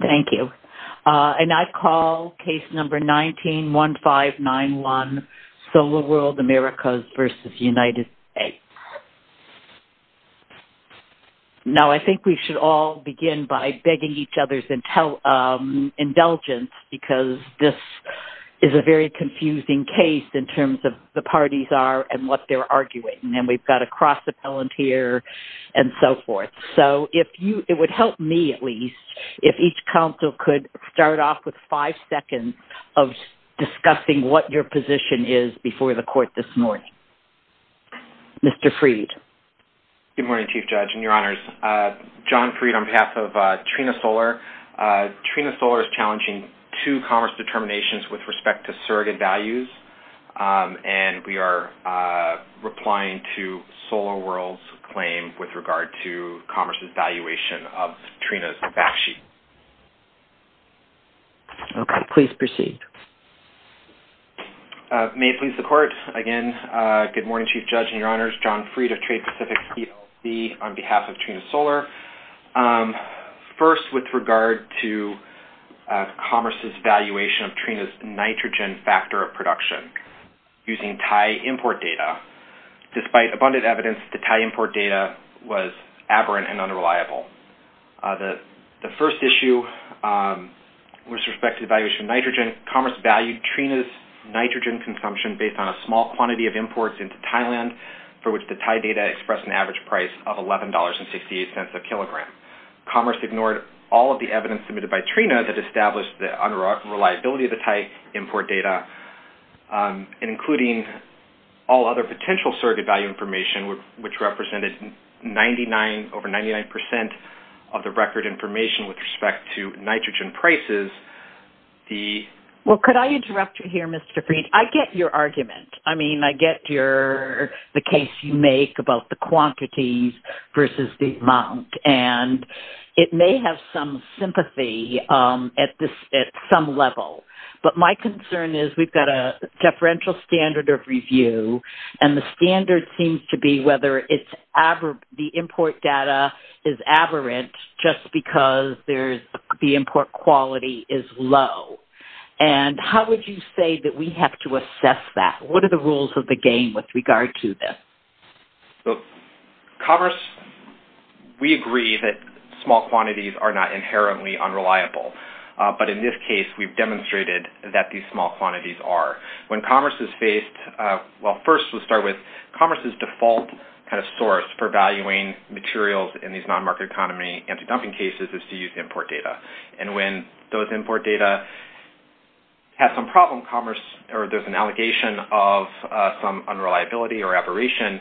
Thank you. And I call case number 19-1591, SolarWorld Americas v. United States. Now, I think we should all begin by begging each other's indulgence, because this is a very confusing case in terms of the parties are and what they're arguing, and we've got a cross-appellant here and so forth. So it would help me, at least, if each counsel could start off with five seconds of discussing what your position is before the court this morning. Mr. Fried. Good morning, Chief Judge and Your Honors. John Fried on behalf of Trina Solar. Trina Solar is challenging two commerce determinations with respect to surrogate values, and we are replying to SolarWorld's claim with regard to commerce's valuation of Trina's fact sheet. Okay. Please proceed. May it please the Court. Again, good morning, Chief Judge and Your Honors. John Fried of Trade Pacific, PLC, on behalf of Trina Solar. First, with regard to commerce's valuation of Trina's nitrogen factor of production using Thai import data. Despite abundant evidence, the Thai import data was aberrant and unreliable. The first issue with respect to the valuation of nitrogen, commerce valued Trina's nitrogen consumption based on a small quantity of imports into Thailand for which the Thai data expressed an average price of $11.68 a kilogram. Commerce ignored all of the evidence submitted by Trina that established the unreliability of the Thai import data, including all other potential surrogate value information, which represented over 99% of the record information with respect to nitrogen prices. Well, could I interrupt you here, Mr. Fried? I get your argument. I mean, I get the case you make about the quantities versus the amount, and it may have some sympathy at some level. But my concern is we've got a deferential standard of review, and the standard seems to be whether the import data is aberrant just because the import quality is low. And how would you say that we have to assess that? What are the rules of the game with regard to this? Commerce, we agree that small quantities are not inherently unreliable. But in this case, we've demonstrated that these small quantities are. When commerce is faced, well, first we'll start with commerce's default kind of source for valuing materials in these non-market economy anti-dumping cases is to use import data. And when those import data have some problem, commerce, or there's an allegation of some unreliability or aberration,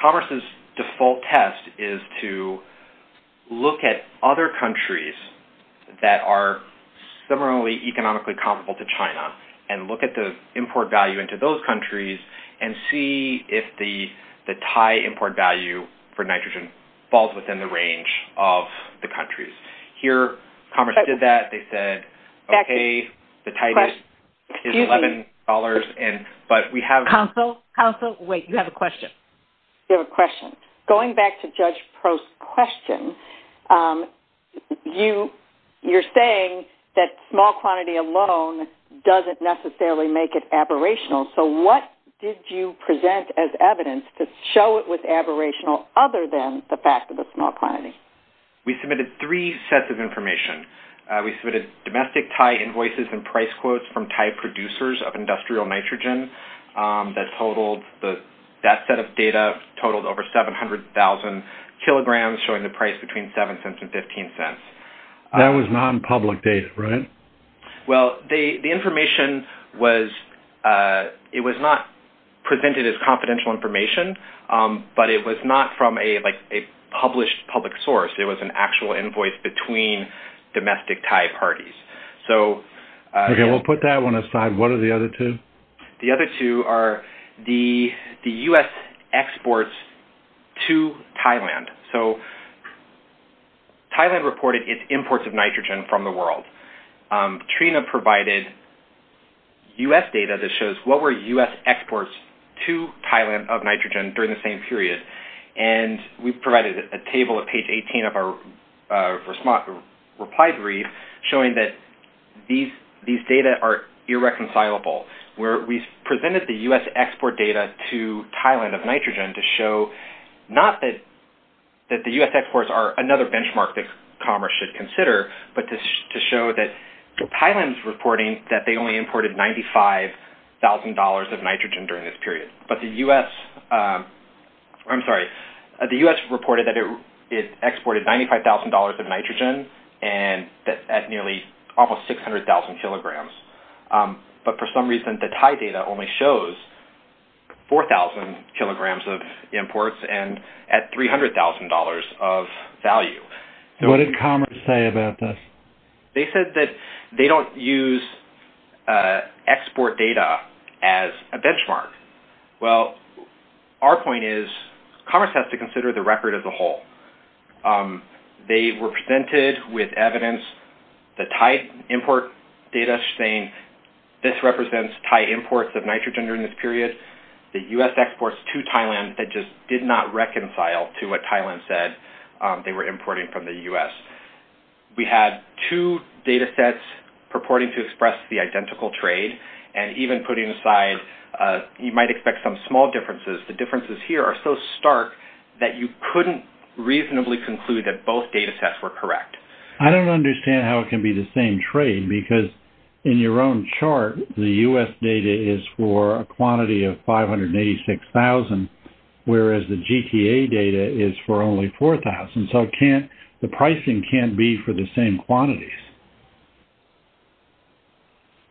commerce's default test is to look at other countries that are similarly economically comparable to China and look at the import value into those countries and see if the Thai import value for nitrogen falls within the range of the countries. Here, commerce did that. They said, okay, the Thai is $11, but we have... Counsel, wait, you have a question. You have a question. Going back to Judge Pro's question, you're saying that small quantity alone doesn't necessarily make it aberrational. So what did you present as evidence to show it was aberrational other than the fact of the small quantity? We submitted three sets of information. We submitted domestic Thai invoices and price quotes from Thai producers of industrial nitrogen. That set of data totaled over 700,000 kilograms, showing the price between $0.07 and $0.15. That was non-public data, right? Well, the information was not presented as confidential information, but it was not from a published public source. It was an actual invoice between domestic Thai parties. Okay, we'll put that one aside. What are the other two? The other two are the U.S. exports to Thailand. So Thailand reported its imports of nitrogen from the world. Trina provided U.S. data that shows what were U.S. exports to Thailand of nitrogen during the same period, and we provided a table at page 18 of our reply brief showing that these data are irreconcilable. We presented the U.S. export data to Thailand of nitrogen to show not that the U.S. exports are another benchmark that commerce should consider, but to show that Thailand's reporting that they only imported $95,000 of nitrogen during this period. But the U.S. reported that it exported $95,000 of nitrogen at nearly almost 600,000 kilograms. But for some reason, the Thai data only shows 4,000 kilograms of imports at $300,000 of value. What did commerce say about this? They said that they don't use export data as a benchmark. Well, our point is commerce has to consider the record as a whole. They were presented with evidence, the Thai import data saying this represents Thai imports of nitrogen during this period, the U.S. exports to Thailand that just did not reconcile to what Thailand said they were importing from the U.S. We had two data sets purporting to express the identical trade, and even putting aside you might expect some small differences, the differences here are so stark that you couldn't reasonably conclude that both data sets were correct. I don't understand how it can be the same trade because in your own chart, the U.S. data is for a quantity of 586,000, whereas the GTA data is for only 4,000, so the pricing can't be for the same quantities.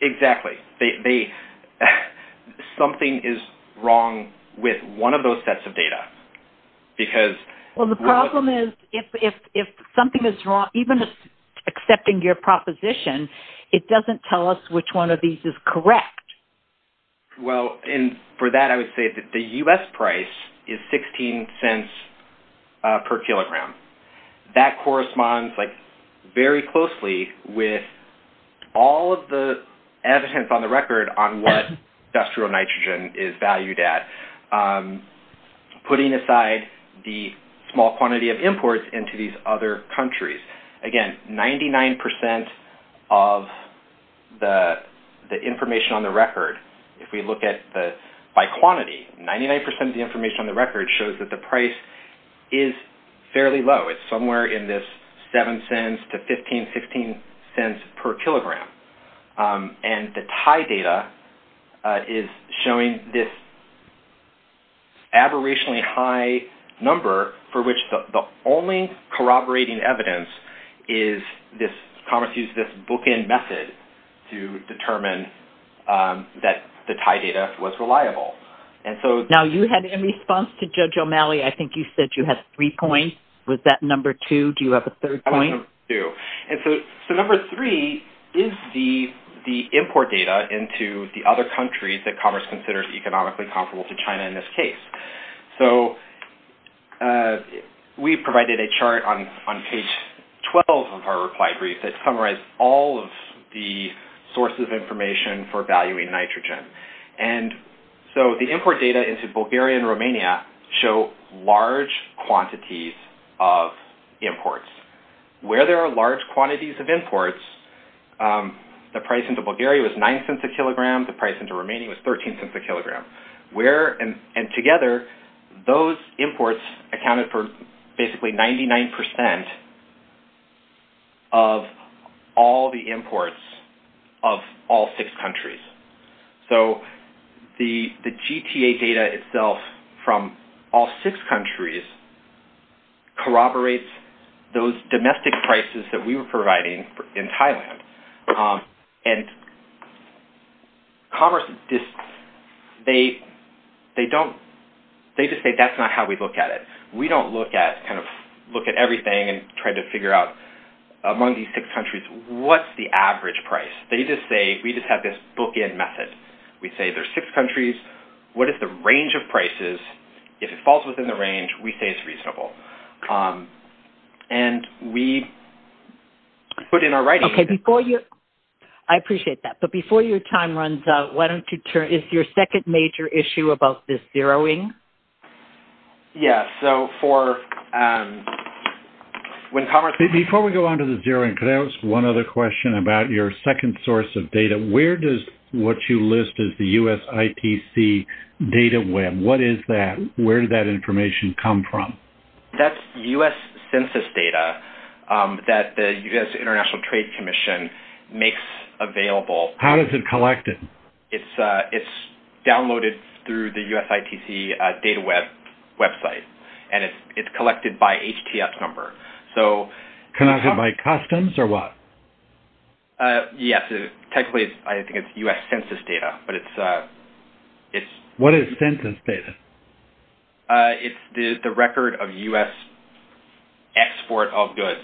Exactly. Something is wrong with one of those sets of data because... Well, the problem is if something is wrong, even accepting your proposition, it doesn't tell us which one of these is correct. Well, and for that I would say that the U.S. price is 16 cents per kilogram. That corresponds very closely with all of the evidence on the record on what industrial nitrogen is valued at, putting aside the small quantity of imports into these other countries. Again, 99% of the information on the record, if we look at by quantity, 99% of the information on the record shows that the price is fairly low. It's somewhere in this 7 cents to 15, 16 cents per kilogram, and the Thai data is showing this aberrationally high number for which the only corroborating evidence is this, and so Congress used this bookend method to determine that the Thai data was reliable. Now, you had, in response to Judge O'Malley, I think you said you had three points. Was that number two? Do you have a third point? That was number two, and so number three is the import data into the other countries that Congress considers economically comparable to China in this case. We provided a chart on page 12 of our reply brief that summarized all of the sources of information for valuing nitrogen, and so the import data into Bulgaria and Romania show large quantities of imports. Where there are large quantities of imports, the price into Bulgaria was 9 cents a kilogram. The price into Romania was 13 cents a kilogram. And together, those imports accounted for basically 99% of all the imports of all six countries, so the GTA data itself from all six countries corroborates those domestic prices that we were providing in Thailand, and Congress, they just say that's not how we look at it. We don't look at everything and try to figure out among these six countries what's the average price. They just say we just have this bookend method. We say there's six countries. What is the range of prices? If it falls within the range, we say it's reasonable, and we put in our writing. I appreciate that, but before your time runs out, is your second major issue about this zeroing? Before we go on to the zeroing, could I ask one other question about your second source of data? Where does what you list as the US ITC data web, what is that? Where did that information come from? That's US census data that the US International Trade Commission makes available. How is it collected? It's downloaded through the US ITC data web website, and it's collected by HTF number. Collected by customs or what? Yes, technically, I think it's US census data. What is census data? It's the record of US export of goods.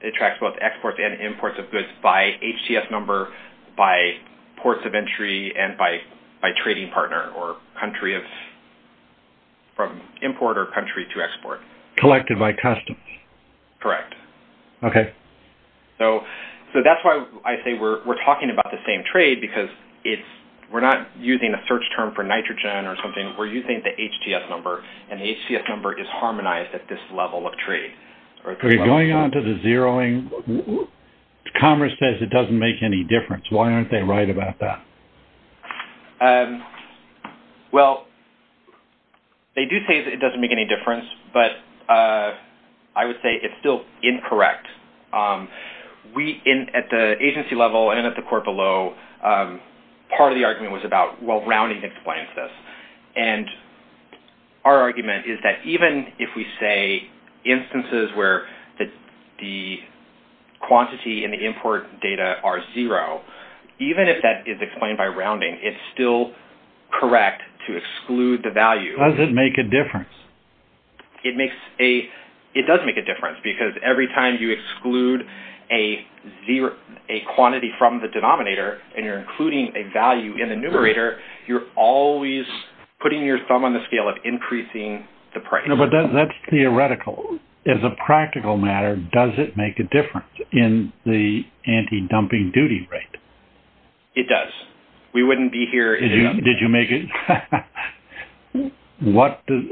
It tracks both exports and imports of goods by HTF number, by ports of entry, and by trading partner or country of import or country to export. Collected by customs. Correct. Okay. That's why I say we're talking about the same trade, because we're not using a search term for nitrogen or something. We're using the HTF number, and the HTF number is harmonized at this level of trade. Going on to the zeroing, Commerce says it doesn't make any difference. Why aren't they right about that? Well, they do say that it doesn't make any difference, but I would say it's still incorrect. At the agency level and at the court below, part of the argument was about, well, rounding explains this. Our argument is that even if we say instances where the quantity and the import data are zero, even if that is explained by rounding, it's still correct to exclude the value. Does it make a difference? It does make a difference, because every time you exclude a quantity from the denominator and you're including a value in the numerator, you're always putting your thumb on the scale of increasing the price. But that's theoretical. As a practical matter, does it make a difference in the anti-dumping duty rate? It does. Did you make it?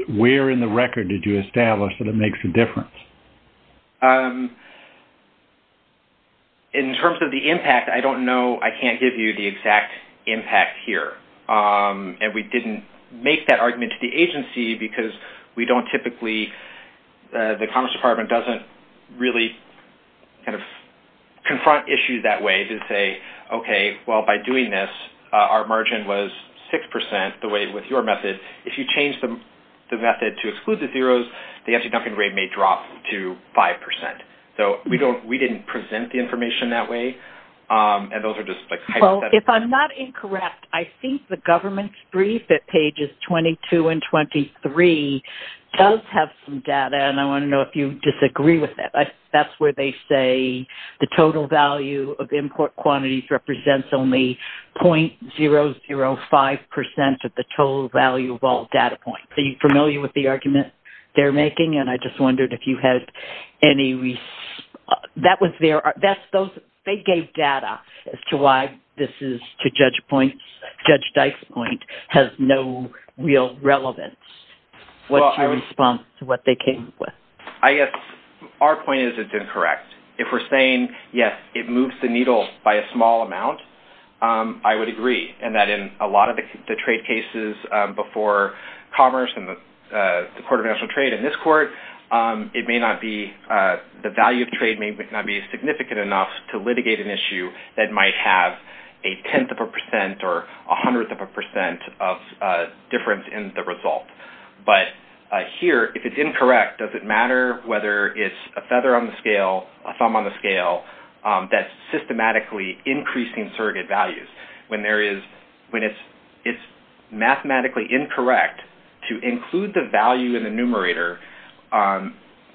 Where in the record did you establish that it makes a difference? In terms of the impact, I don't know. I can't give you the exact impact here. And we didn't make that argument to the agency, because we don't typically-the Commerce Department doesn't really kind of confront issues that way to say, okay, well, by doing this, our margin was 6%, the way with your method. If you change the method to exclude the zeros, the anti-dumping rate may drop to 5%. So we didn't present the information that way, and those are just hypothetical. If I'm not incorrect, I think the government's brief at pages 22 and 23 does have some data, and I want to know if you disagree with that. That's where they say the total value of import quantities represents only .005% of the total value of all data points. Are you familiar with the argument they're making? And I just wondered if you had any-that was their-they gave data as to why this is, to Judge Dykes' point, has no real relevance. What's your response to what they came up with? I guess our point is it's incorrect. If we're saying, yes, it moves the needle by a small amount, I would agree, and that in a lot of the trade cases before commerce and the Court of National Trade and this court, it may not be-the value of trade may not be significant enough to litigate an issue that might have a tenth of a percent or a hundredth of a percent of difference in the result. But here, if it's incorrect, does it matter whether it's a feather on the scale, a thumb on the scale, that systematically increasing surrogate values when there is-when it's mathematically incorrect to include the value in the numerator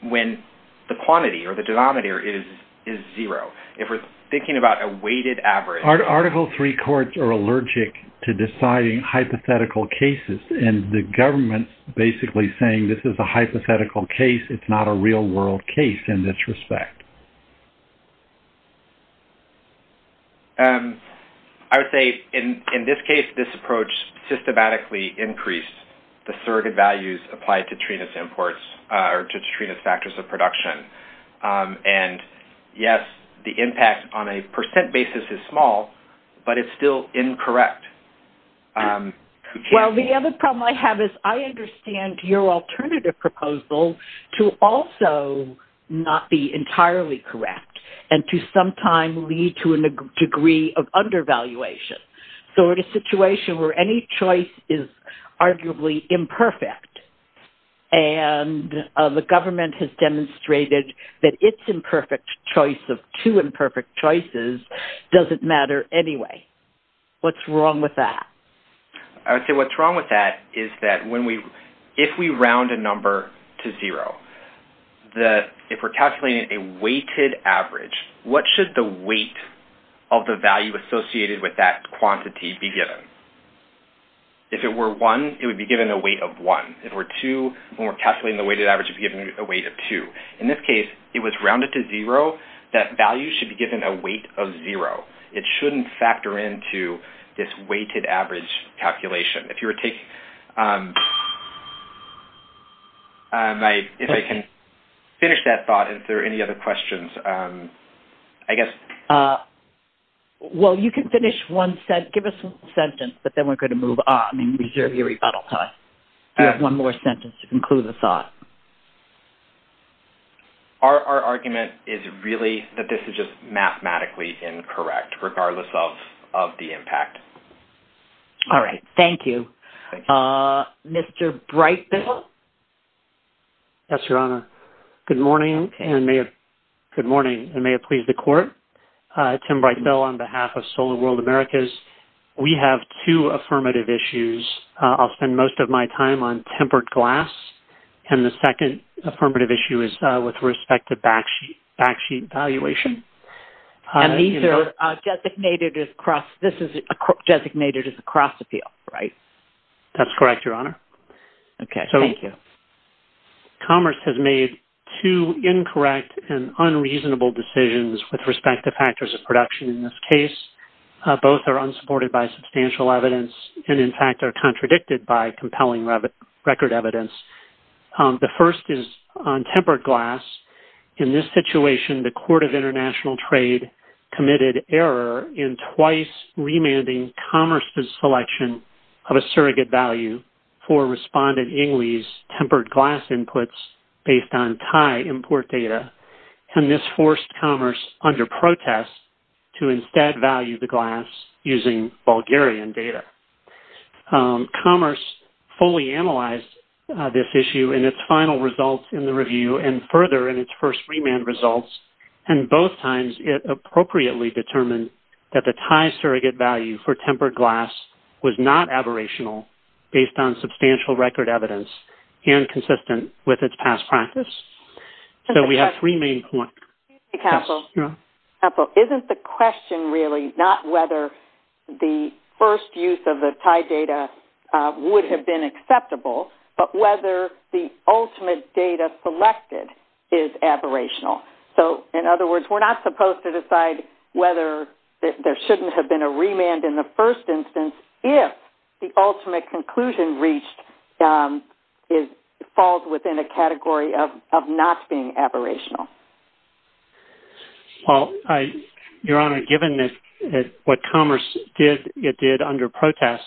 when the quantity or the denominator is zero? If we're thinking about a weighted average- Article III courts are allergic to deciding hypothetical cases, and the government's basically saying this is a hypothetical case. It's not a real-world case in this respect. I would say, in this case, this approach systematically increased the surrogate values applied to Trenas imports or to Trenas factors of production. And, yes, the impact on a percent basis is small, but it's still incorrect. Well, the other problem I have is I understand your alternative proposal to also not be entirely correct and to sometime lead to a degree of undervaluation. So in a situation where any choice is arguably imperfect, and the government has demonstrated that its imperfect choice of two imperfect choices doesn't matter anyway. What's wrong with that? I would say what's wrong with that is that when we-if we round a number to zero, if we're calculating a weighted average, what should the weight of the value associated with that quantity be given? If it were one, it would be given a weight of one. If it were two, when we're calculating the weighted average, it would be given a weight of two. In this case, it was rounded to zero. That value should be given a weight of zero. It shouldn't factor into this weighted average calculation. If you were taking-if I can finish that thought. Is there any other questions? I guess- Well, you can finish one-give us one sentence, but then we're going to move on and reserve your rebuttal time. You have one more sentence to conclude the thought. Our argument is really that this is just mathematically incorrect, regardless of the impact. All right. Thank you. Thank you. Mr. Brightville? Yes, Your Honor. Good morning, and may it please the Court. Tim Brightville on behalf of Solar World Americas. We have two affirmative issues. I'll spend most of my time on tempered glass, and the second affirmative issue is with respect to backsheet valuation. And these are designated as cross-this is designated as a cross-appeal, right? That's correct, Your Honor. Okay, thank you. Commerce has made two incorrect and unreasonable decisions with respect to factors of production in this case. Both are unsupported by substantial evidence and, in fact, are contradicted by compelling record evidence. The first is on tempered glass. In this situation, the Court of International Trade committed error in twice remanding commerce's selection of a surrogate value for Respondent Ingley's tempered glass inputs based on Thai import data. And this forced commerce under protest to instead value the glass using Bulgarian data. Commerce fully analyzed this issue in its final results in the review and further in its first remand results, and both times it appropriately determined that the Thai surrogate value for tempered glass was not aberrational based on substantial record evidence and consistent with its past practice. So we have three main points. Counsel, isn't the question really not whether the first use of the Thai data would have been acceptable, but whether the ultimate data selected is aberrational? So, in other words, we're not supposed to decide whether there shouldn't have been a remand in the first instance if the ultimate conclusion reached falls within a category of not being aberrational. Well, Your Honor, given what commerce did under protest,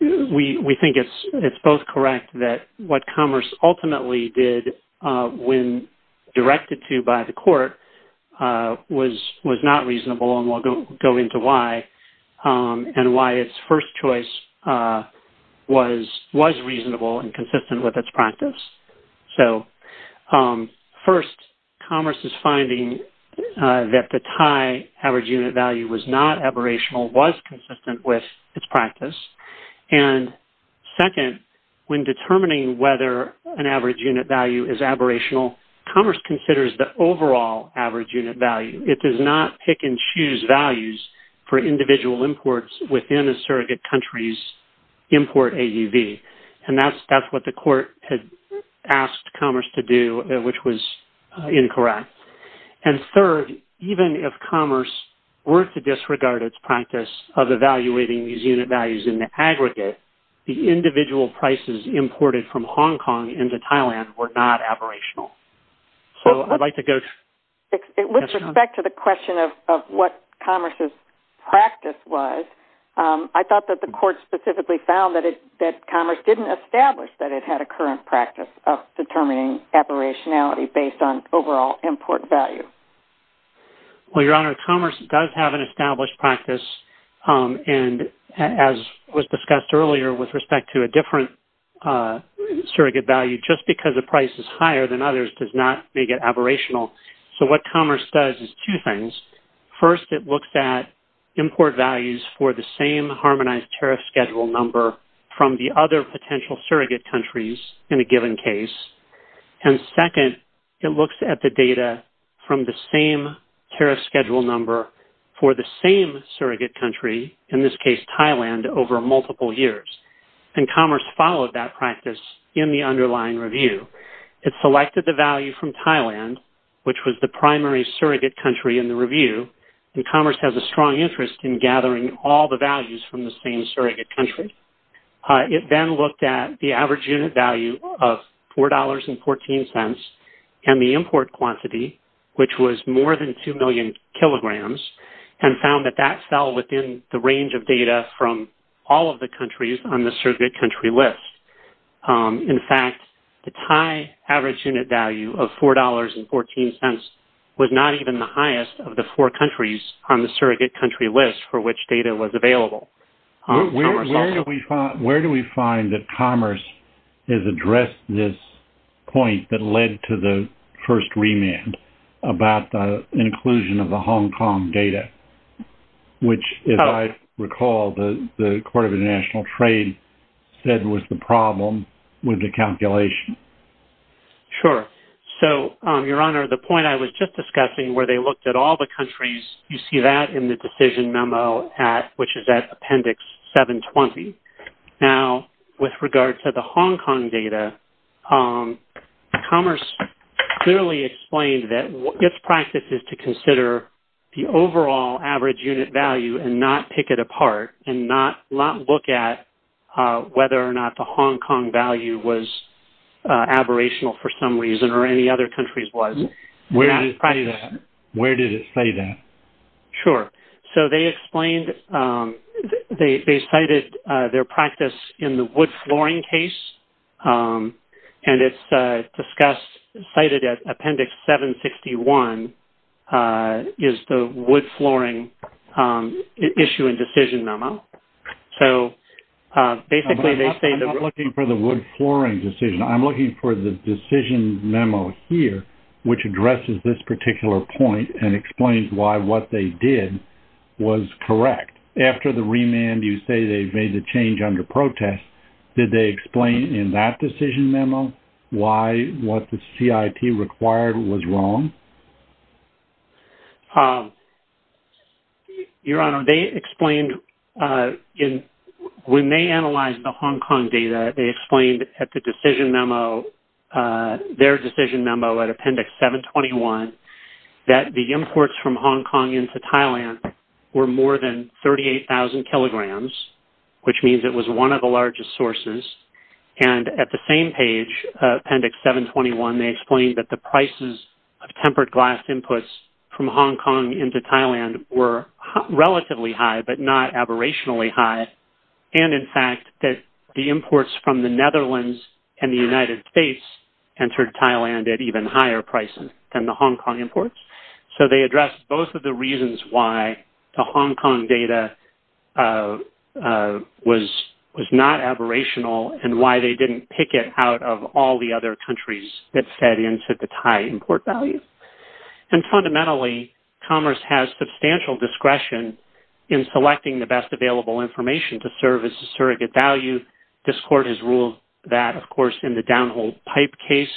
we think it's both correct that what commerce ultimately did when directed to by the court was not reasonable, and we'll go into why, and why its first choice was reasonable and consistent with its practice. So, first, commerce's finding that the Thai average unit value was not aberrational was consistent with its practice. And second, when determining whether an average unit value is aberrational, commerce considers the overall average unit value. It does not pick and choose values for individual imports within a surrogate country's import AUV. And that's what the court had asked commerce to do, which was incorrect. And third, even if commerce were to disregard its practice of evaluating these unit values in the aggregate, the individual prices imported from Hong Kong into Thailand were not aberrational. With respect to the question of what commerce's practice was, I thought that the court specifically found that commerce didn't establish that it had a current practice of determining aberrationality based on overall import value. Well, Your Honor, commerce does have an established practice. And as was discussed earlier with respect to a different surrogate value, just because a price is higher than others does not make it aberrational. So what commerce does is two things. First, it looks at import values for the same harmonized tariff schedule number from the other potential surrogate countries in a given case. And second, it looks at the data from the same tariff schedule number for the same surrogate country, in this case Thailand, over multiple years. And commerce followed that practice in the underlying review. It selected the value from Thailand, which was the primary surrogate country in the review. And commerce has a strong interest in gathering all the values from the same surrogate country. It then looked at the average unit value of $4.14 and the import quantity, which was more than 2 million kilograms, and found that that fell within the range of data from all of the countries on the surrogate country list. In fact, the Thai average unit value of $4.14 was not even the highest of the four countries on the surrogate country list for which data was available. Where do we find that commerce has addressed this point that led to the first remand about the inclusion of the Hong Kong data, which, if I recall, the Court of International Trade said was the problem with the calculation? Sure. So, Your Honor, the point I was just discussing, where they looked at all the countries, you see that in the decision memo, which is at Appendix 720. Now, with regard to the Hong Kong data, commerce clearly explained that its practice is to consider the overall average unit value and not pick it apart and not look at whether or not the Hong Kong value was aberrational for some reason or any other countries was. Where did it say that? Sure. So, they explained-they cited their practice in the wood flooring case, and it's discussed-cited at Appendix 761 is the wood flooring issue and decision memo. I'm not looking for the wood flooring decision. I'm looking for the decision memo here, which addresses this particular point and explains why what they did was correct. After the remand, you say they made the change under protest. Did they explain in that decision memo why what the CIT required was wrong? Your Honor, they explained-when they analyzed the Hong Kong data, they explained at the decision memo-their decision memo at Appendix 721 that the imports from Hong Kong into Thailand were more than 38,000 kilograms, which means it was one of the largest sources. And at the same page, Appendix 721, they explained that the prices of tempered glass inputs from Hong Kong into Thailand were relatively high but not aberrationally high, and in fact that the imports from the Netherlands and the United States entered Thailand at even higher prices than the Hong Kong imports. So they addressed both of the reasons why the Hong Kong data was not aberrational and why they didn't pick it out of all the other countries that fed into the Thai import value. And fundamentally, Commerce has substantial discretion in selecting the best available information to serve as a surrogate value. This Court has ruled that, of course, in the downhole pipe case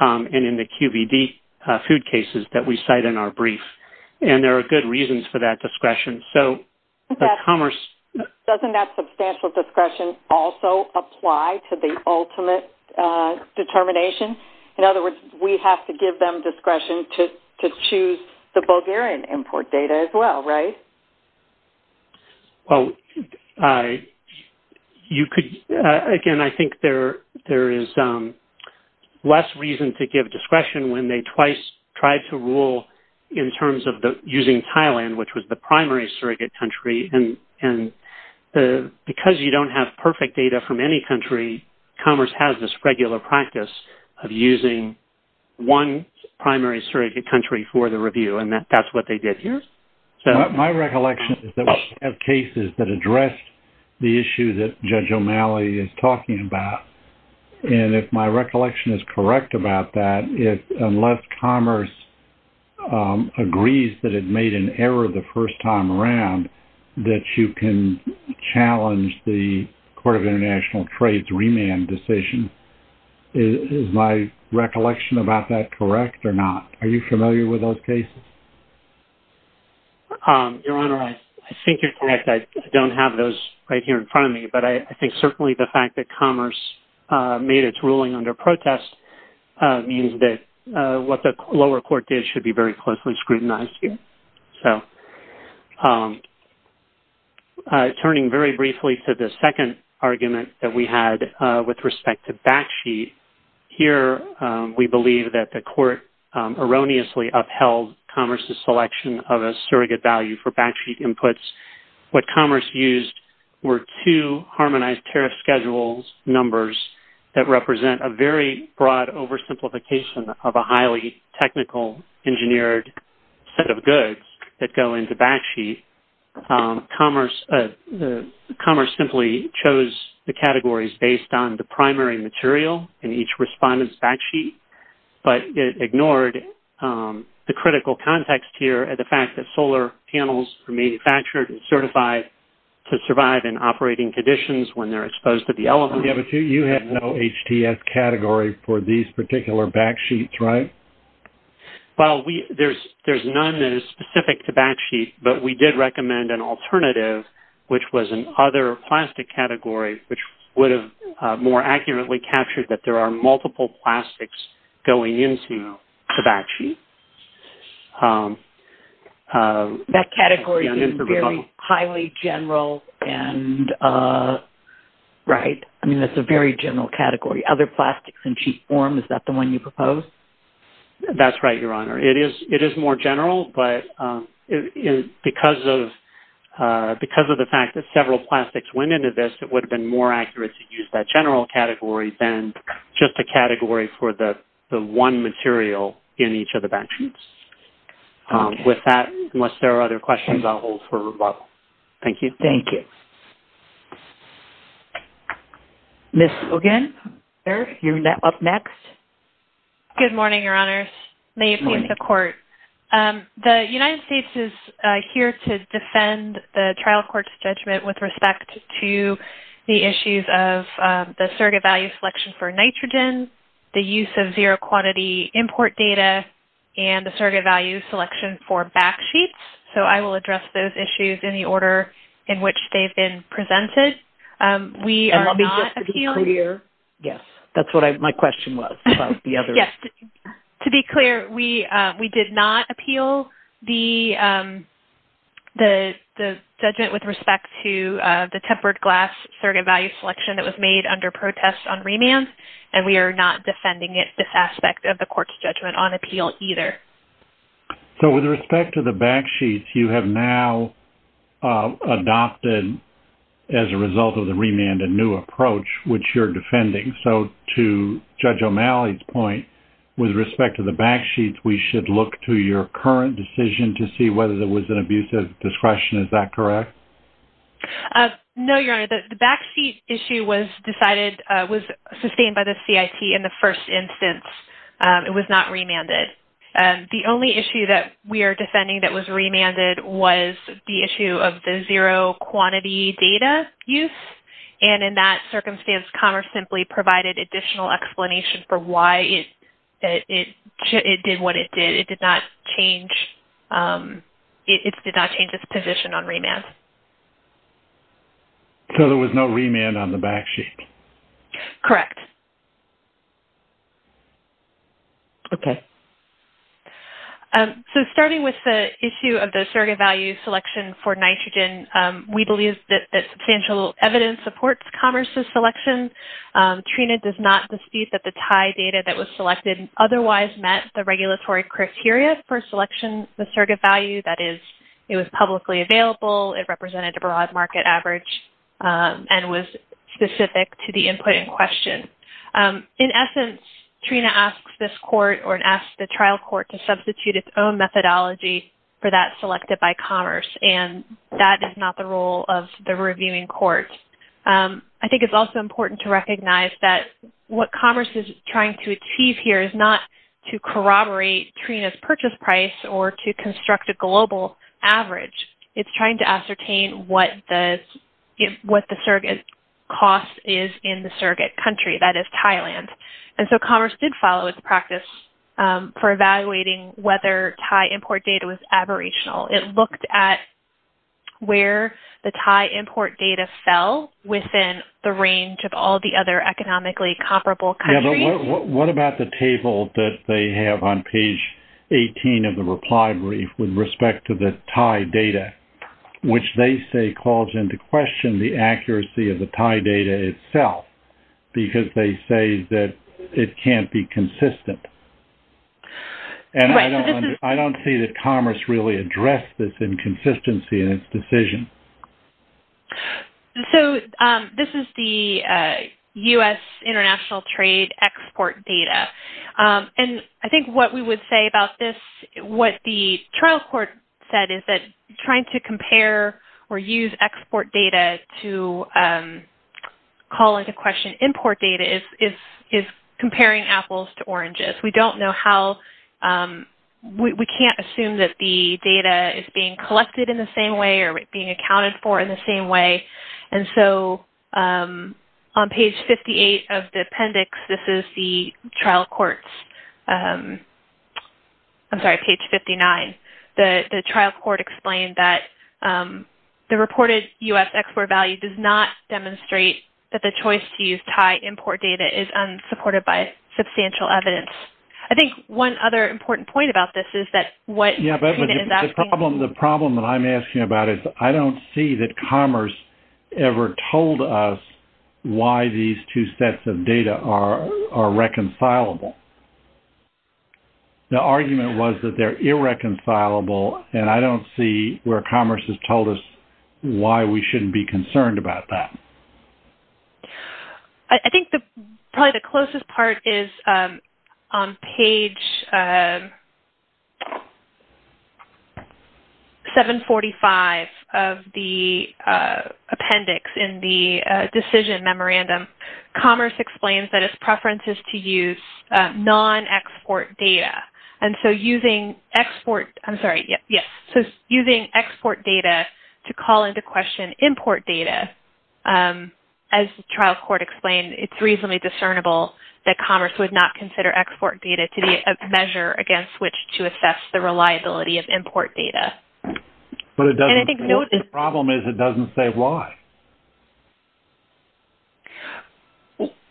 and in the QVD food cases that we cite in our brief, and there are good reasons for that discretion. Doesn't that substantial discretion also apply to the ultimate determination? In other words, we have to give them discretion to choose the Bulgarian import data as well, right? Well, again, I think there is less reason to give discretion when they twice tried to rule in terms of using Thailand, which was the primary surrogate country, and because you don't have perfect data from any country, Commerce has this regular practice of using one primary surrogate country for the review, and that's what they did here. My recollection is that we have cases that addressed the issue that Judge O'Malley is talking about, and if my recollection is correct about that, unless Commerce agrees that it made an error the first time around, that you can challenge the Court of International Trade's remand decision. Is my recollection about that correct or not? Are you familiar with those cases? Your Honor, I think you're correct. I don't have those right here in front of me, but I think certainly the fact that Commerce made its ruling under protest means that what the lower court did should be very closely scrutinized here. Turning very briefly to the second argument that we had with respect to backsheet, here we believe that the court erroneously upheld Commerce's selection of a surrogate value for backsheet inputs. What Commerce used were two harmonized tariff schedules numbers that represent a very broad oversimplification of a highly technical engineered set of goods that go into backsheet. Commerce simply chose the categories based on the primary material in each respondent's backsheet, but it ignored the critical context here and the fact that solar panels are manufactured and certified to survive in operating conditions when they're exposed to the elements. Yes, but you had no HTS category for these particular backsheets, right? Well, there's none that is specific to backsheet, but we did recommend an alternative, which was an other plastic category, which would have more accurately captured that there are multiple plastics going into the backsheet. That category is very highly general and, right, I mean, that's a very general category. Other plastics in cheap form, is that the one you propose? That's right, Your Honor. It is more general, but because of the fact that several plastics went into this, it would have been more accurate to use that general category than just a category for the one material in each of the backsheets. With that, unless there are other questions, I'll hold for rebuttal. Thank you. Thank you. Ms. Ogin, you're up next. Good morning, Your Honors. May it please the Court. The United States is here to defend the trial court's judgment with respect to the issues of the surrogate value selection for nitrogen, the use of zero-quantity import data, and the surrogate value selection for backsheets. So, I will address those issues in the order in which they've been presented. We are not appealing... And let me just be clear. Yes, that's what my question was about the other... We are not defending this aspect of the court's judgment on appeal either. So, with respect to the backsheets, you have now adopted, as a result of the remand, a new approach, which you're defending. So, to Judge O'Malley's point, with respect to the backsheets, we should look to your current decision to see whether there was an abuse of discretion. Is that correct? No, Your Honor. The backseat issue was decided...was sustained by the CIT in the first instance. It was not remanded. The only issue that we are defending that was remanded was the issue of the zero-quantity data use. And in that circumstance, Commerce simply provided additional explanation for why it did what it did. It did not change its position on remand. So, there was no remand on the backsheet? Correct. Okay. So, starting with the issue of the surrogate value selection for nitrogen, we believe that substantial evidence supports Commerce's selection. Trina does not dispute that the TIE data that was selected otherwise met the regulatory criteria for selection of the surrogate value. That is, it was publicly available, it represented a broad market average, and was specific to the input in question. In essence, Trina asks this court or asks the trial court to substitute its own methodology for that selected by Commerce, and that is not the role of the reviewing court. I think it's also important to recognize that what Commerce is trying to achieve here is not to corroborate Trina's purchase price or to construct a global average. It's trying to ascertain what the surrogate cost is in the surrogate country, that is, Thailand. And so, Commerce did follow its practice for evaluating whether TIE import data was aberrational. It looked at where the TIE import data fell within the range of all the other economically comparable countries. What about the table that they have on page 18 of the reply brief with respect to the TIE data, which they say calls into question the accuracy of the TIE data itself, because they say that it can't be consistent? And I don't see that Commerce really addressed this inconsistency in its decision. So, this is the U.S. international trade export data. And I think what we would say about this, what the trial court said is that trying to compare or use export data to call into question import data is comparing apples to oranges. We can't assume that the data is being collected in the same way or being accounted for in the same way. And so, on page 58 of the appendix, this is the trial court's, I'm sorry, page 59. The trial court explained that the reported U.S. export value does not demonstrate that the choice to use TIE import data is unsupported by substantial evidence. I think one other important point about this is that what... Yeah, but the problem that I'm asking about is I don't see that Commerce ever told us why these two sets of data are reconcilable. The argument was that they're irreconcilable, and I don't see where Commerce has told us why we shouldn't be concerned about that. I think probably the closest part is on page 745 of the appendix in the decision memorandum. Commerce explains that its preference is to use non-export data. And so, using export data to call into question import data, as the trial court explained, it's reasonably discernible that Commerce would not consider export data to be a measure against which to assess the reliability of import data. But the problem is it doesn't say why.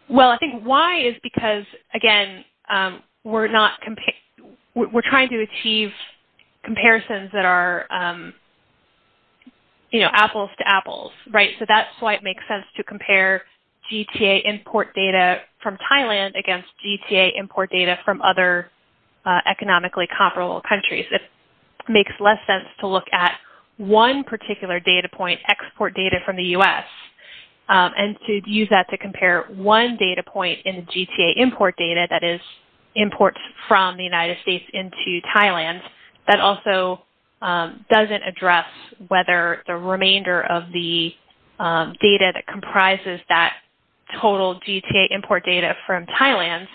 Well, I think why is because, again, we're trying to achieve comparisons that are apples to apples, right? So that's why it makes sense to compare GTA import data from Thailand against GTA import data from other economically comparable countries. It makes less sense to look at one particular data point, export data from the U.S., and to use that to compare one data point in the GTA import data that is imports from the United States into Thailand. And that also doesn't address whether the remainder of the data that comprises that total GTA import data from Thailand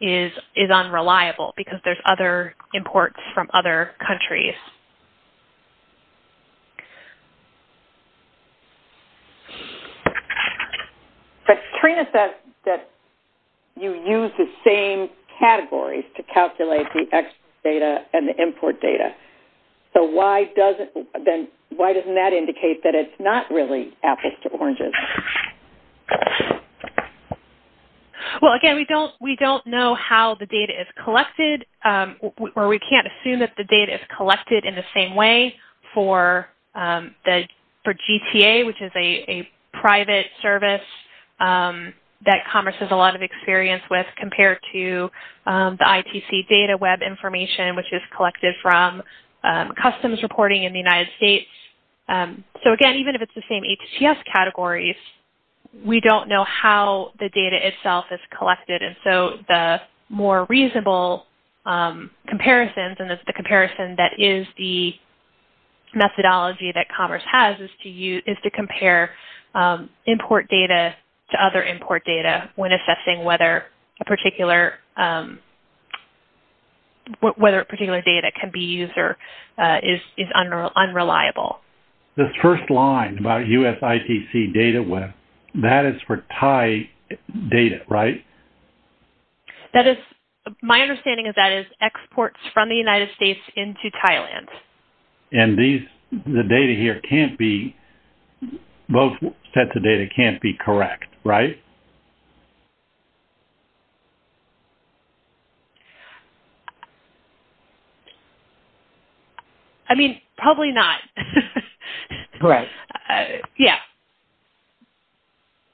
is unreliable because there's other imports from other countries. But Trina says that you use the same categories to calculate the export data and the import data. So why doesn't that indicate that it's not really apples to oranges? Well, again, we don't know how the data is collected, or we can't assume that the data is collected in the same way for GTA, which is a private service that Commerce has a lot of experience with compared to the ITC data web information, which is collected from customs reporting in the United States. So, again, even if it's the same HTS categories, we don't know how the data itself is collected. And so the more reasonable comparisons and the comparison that is the methodology that Commerce has is to compare import data to other import data when assessing whether a particular data can be used or is unreliable. This first line about US ITC data web, that is for Thai data, right? That is- my understanding of that is exports from the United States into Thailand. And these- the data here can't be- both sets of data can't be correct, right? I mean, probably not. Right. Yeah.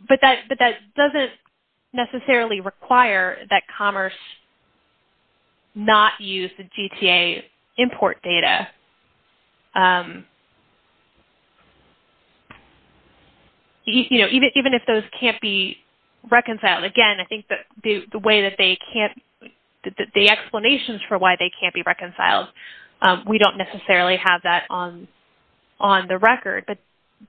But that doesn't necessarily require that Commerce not use the GTA import data, you know, even if those can't be reconciled. Again, I think that the way that they can't- the explanations for why they can't be reconciled, we don't necessarily have that on the record.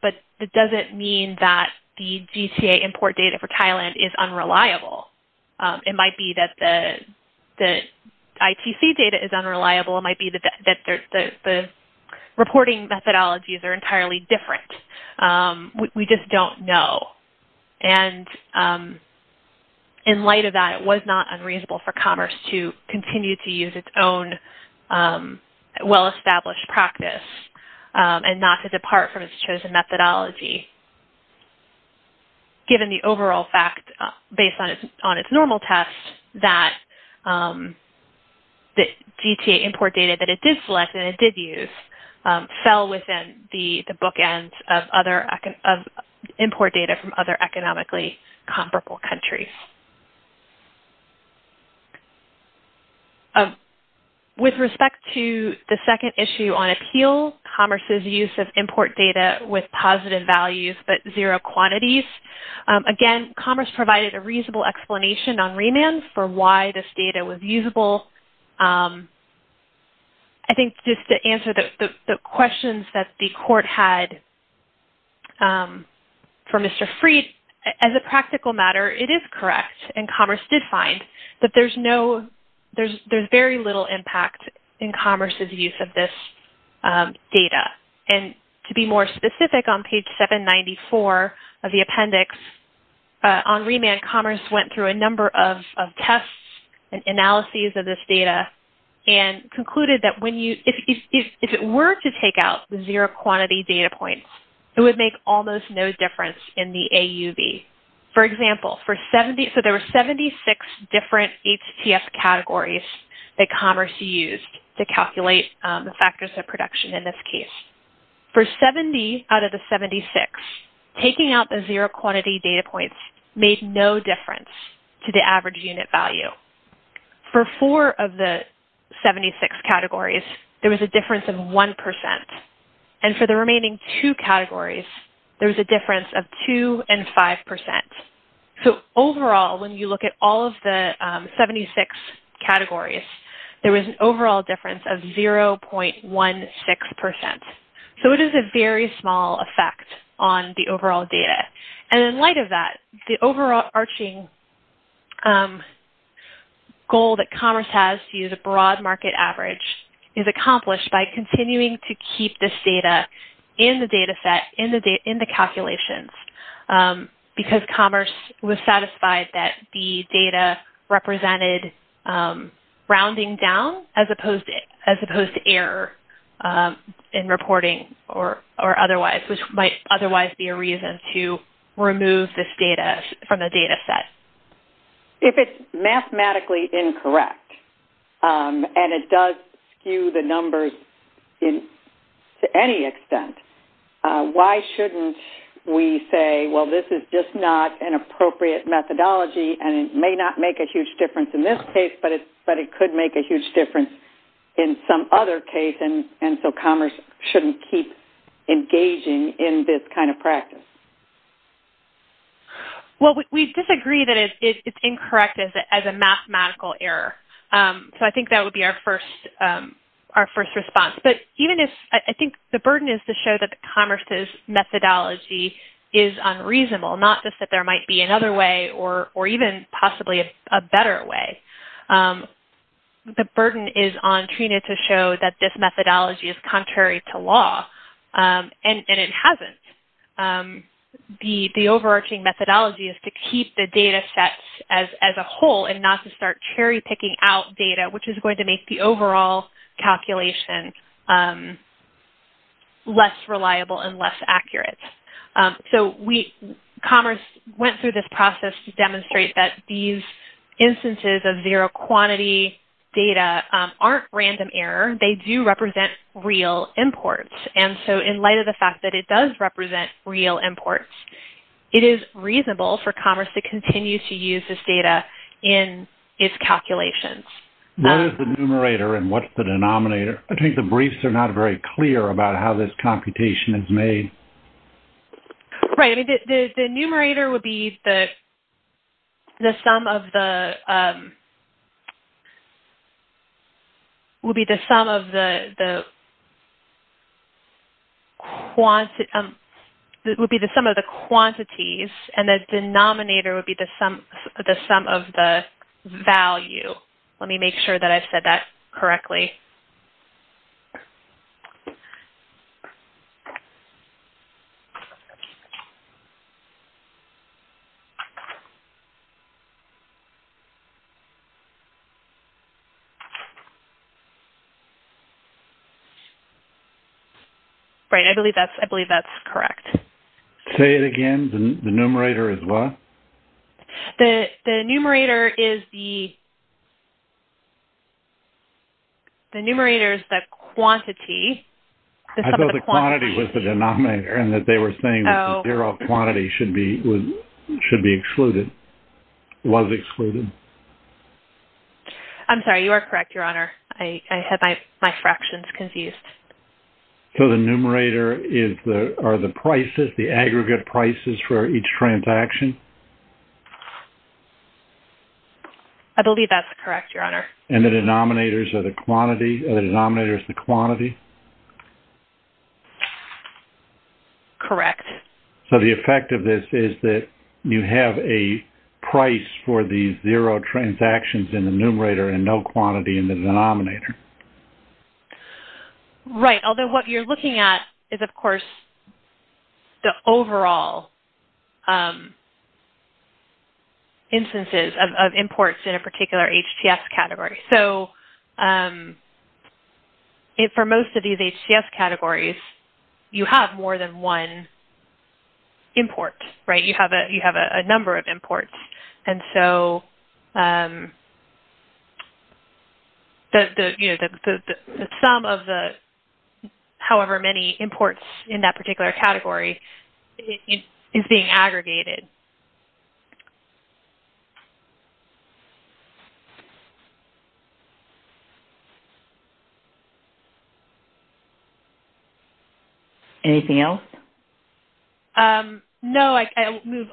But that doesn't mean that the GTA import data for Thailand is unreliable. It might be that the ITC data is unreliable. It might be that the reporting methodologies are entirely different. We just don't know. And in light of that, it was not unreasonable for Commerce to continue to use its own well-established practice and not to depart from its chosen methodology. Given the overall fact, based on its normal test, that the GTA import data that it did select and it did use fell within the bookend of import data from other economically comparable countries. With respect to the second issue on appeal, Commerce's use of import data with positive values but zero quantities, again, Commerce provided a reasonable explanation on remand for why this data was usable. I think just to answer the questions that the court had for Mr. Fried, as a practical matter, it is correct and Commerce did find that there's very little impact in Commerce's use of this data. To be more specific, on page 794 of the appendix, on remand, Commerce went through a number of tests and analyses of this data and concluded that if it were to take out the zero quantity data points, it would make almost no difference in the AUV. For example, there were 76 different HTF categories that Commerce used to calculate the factors of production in this case. For 70 out of the 76, taking out the zero quantity data points made no difference to the average unit value. For four of the 76 categories, there was a difference of 1%. For the remaining two categories, there was a difference of 2% and 5%. Overall, when you look at all of the 76 categories, there was an overall difference of 0.16%. It is a very small effect on the overall data. In light of that, the overarching goal that Commerce has to use a broad market average is accomplished by continuing to keep this data in the data set, in the calculations, because Commerce was satisfied that the data represented rounding down as opposed to error in reporting or otherwise, which might otherwise be a reason to remove this data from the data set. If it's mathematically incorrect and it does skew the numbers to any extent, why shouldn't we say, well, this is just not an appropriate methodology and it may not make a huge difference in this case, but it could make a huge difference in some other case and so Commerce shouldn't keep engaging in this kind of practice? We disagree that it's incorrect as a mathematical error. I think that would be our first response. I think the burden is to show that Commerce's methodology is unreasonable, not just that there might be another way or even possibly a better way. The burden is on Trina to show that this methodology is contrary to law and it hasn't. The overarching methodology is to keep the data sets as a whole and not to start cherry-picking out data, which is going to make the overall calculation less reliable and less accurate. Commerce went through this process to demonstrate that these instances of zero-quantity data aren't random error. They do represent real imports and so in light of the fact that it does represent real imports, it is reasonable for Commerce to continue to use this data in its calculations. What is the numerator and what's the denominator? I think the briefs are not very clear about how this computation is made. The numerator would be the sum of the quantities and the denominator would be the sum of the value. Let me make sure that I said that correctly. Right. I believe that's correct. Say it again. The numerator is what? The numerator is the quantity. The numerator is the sum of the quantities. They were saying that the zero quantity was excluded. I'm sorry. You are correct, Your Honor. I had my fractions confused. The numerator is the aggregate prices for each transaction? I believe that's correct, Your Honor. And the denominator is the quantity? Correct. So, the effect of this is that you have a price for these zero transactions in the numerator and no quantity in the denominator. Right, although what you're looking at is, of course, the overall instances of imports in a particular HTS category. So, for most of these HTS categories, you have more than one import, right? You have a number of imports. The sum of the however many imports in that particular category is being aggregated. Anything else? No.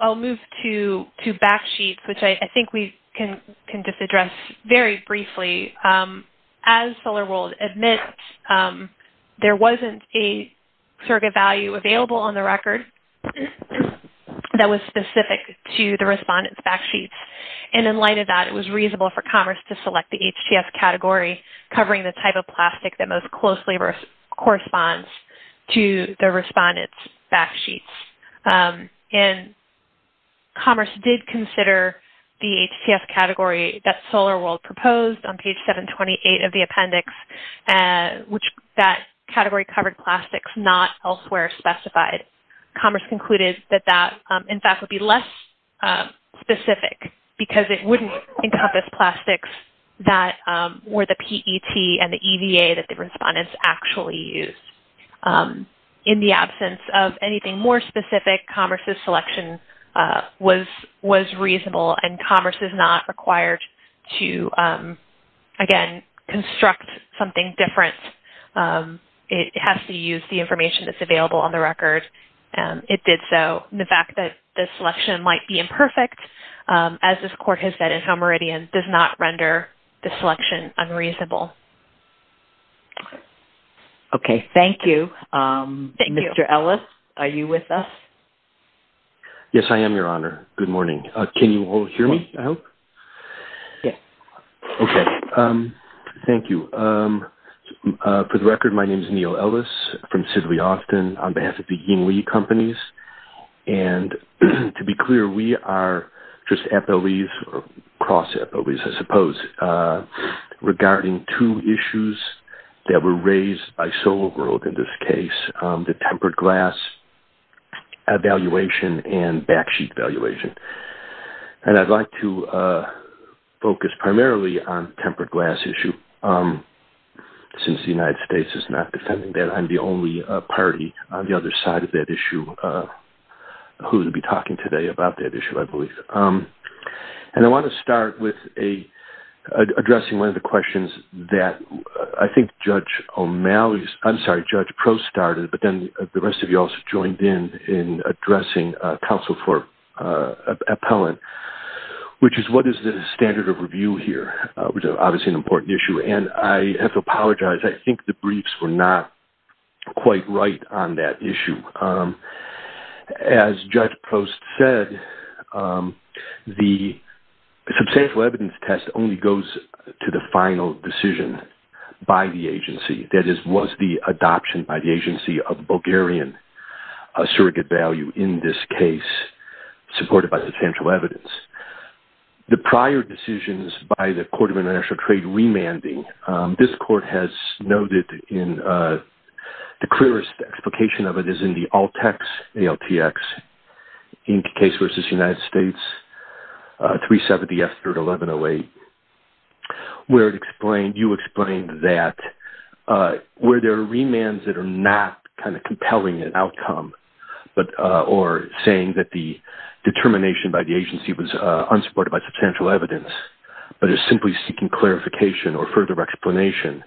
I'll move to backsheets, which I think we can just address very briefly. As SolarWorld admits, there wasn't a surrogate value available on the record that was specific to the respondent's backsheet. And in light of that, it was reasonable for Commerce to select the HTS category covering the type of plastic that most closely corresponds to the respondent's backsheets. And Commerce did consider the HTS category that SolarWorld proposed on page 728 of the appendix, which that category covered plastics not elsewhere specified. But Commerce concluded that that, in fact, would be less specific because it wouldn't encompass plastics that were the PET and the EVA that the respondents actually used. In the absence of anything more specific, Commerce's selection was reasonable and Commerce is not required to, again, construct something different. It has to use the information that's available on the record. It did so. The fact that the selection might be imperfect, as this court has said in How Meridian, does not render the selection unreasonable. Okay. Thank you. Mr. Ellis, are you with us? Yes, I am, Your Honor. Good morning. Can you all hear me, I hope? Yes. Okay. Thank you. For the record, my name is Neal Ellis from Sidley Austin on behalf of the Ying Lee Companies. And to be clear, we are just FOEs or cross-FOEs, I suppose, regarding two issues that were raised by SolarWorld in this case, the tempered glass evaluation and backsheet evaluation. And I'd like to focus primarily on the tempered glass issue, since the United States is not defending that. I'm the only party on the other side of that issue who will be talking today about that issue, I believe. And I want to start with addressing one of the questions that I think Judge O'Malley's – then the rest of you also joined in in addressing counsel for appellant, which is what is the standard of review here, which is obviously an important issue. And I have to apologize. I think the briefs were not quite right on that issue. As Judge Post said, the substantial evidence test only goes to the final decision by the agency. That is, was the adoption by the agency of Bulgarian surrogate value in this case supported by substantial evidence. The prior decisions by the Court of International Trade remanding, this court has noted in the clearest explication of it is in the ALTEX, ALTX, Inc. case versus United States, 370S3-1108, where you explained that where there are remands that are not kind of compelling in outcome or saying that the determination by the agency was unsupported by substantial evidence, but is simply seeking clarification or further explanation.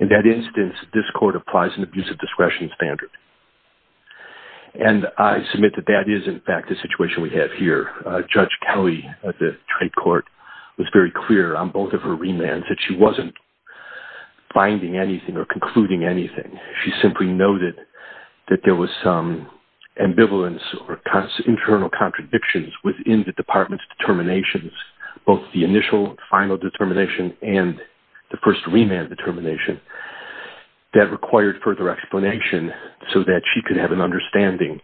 In that instance, this court applies an abuse of discretion standard. And I submit that that is, in fact, the situation we have here. Judge Kelly of the trade court was very clear on both of her remands that she wasn't finding anything or concluding anything. She simply noted that there was some ambivalence or internal contradictions within the department's determinations, both the initial final determination and the first remand determination that required further explanation so that she could have an understanding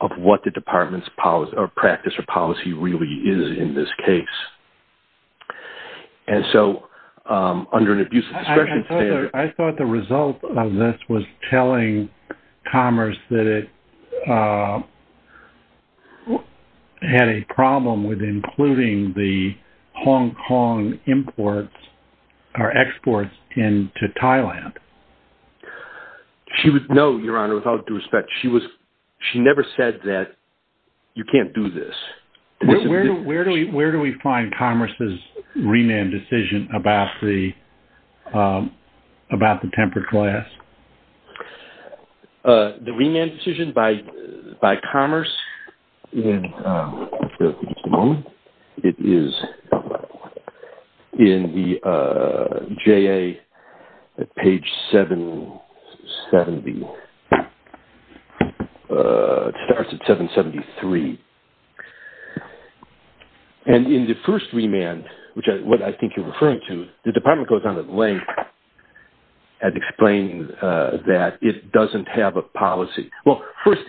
of what the department's practice or policy really is in this case. And so under an abuse of discretion standard... I thought the result of this was telling Commerce that it had a problem with including the Hong Kong imports or exports into Thailand. No, Your Honor, with all due respect. She never said that you can't do this. Where do we find Commerce's remand decision about the tempered glass? The remand decision by Commerce... It is in the J.A. page 770... It starts at 773. And in the first remand, which is what I think you're referring to, the department goes down the link and explains that it doesn't have a policy. Well, first,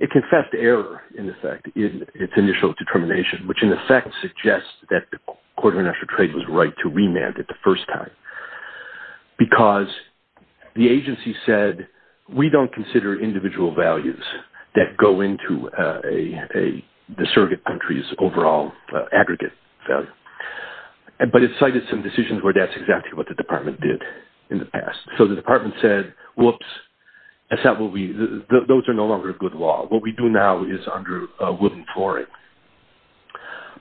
it confessed error, in effect, in its initial determination, which in effect suggests that the Court of International Trade was right to remand it the first time because the agency said, we don't consider individual values that go into the surrogate country's overall aggregate value. But it cited some decisions where that's exactly what the department did in the past. So the department said, whoops, those are no longer good law. What we do now is under wooden flooring.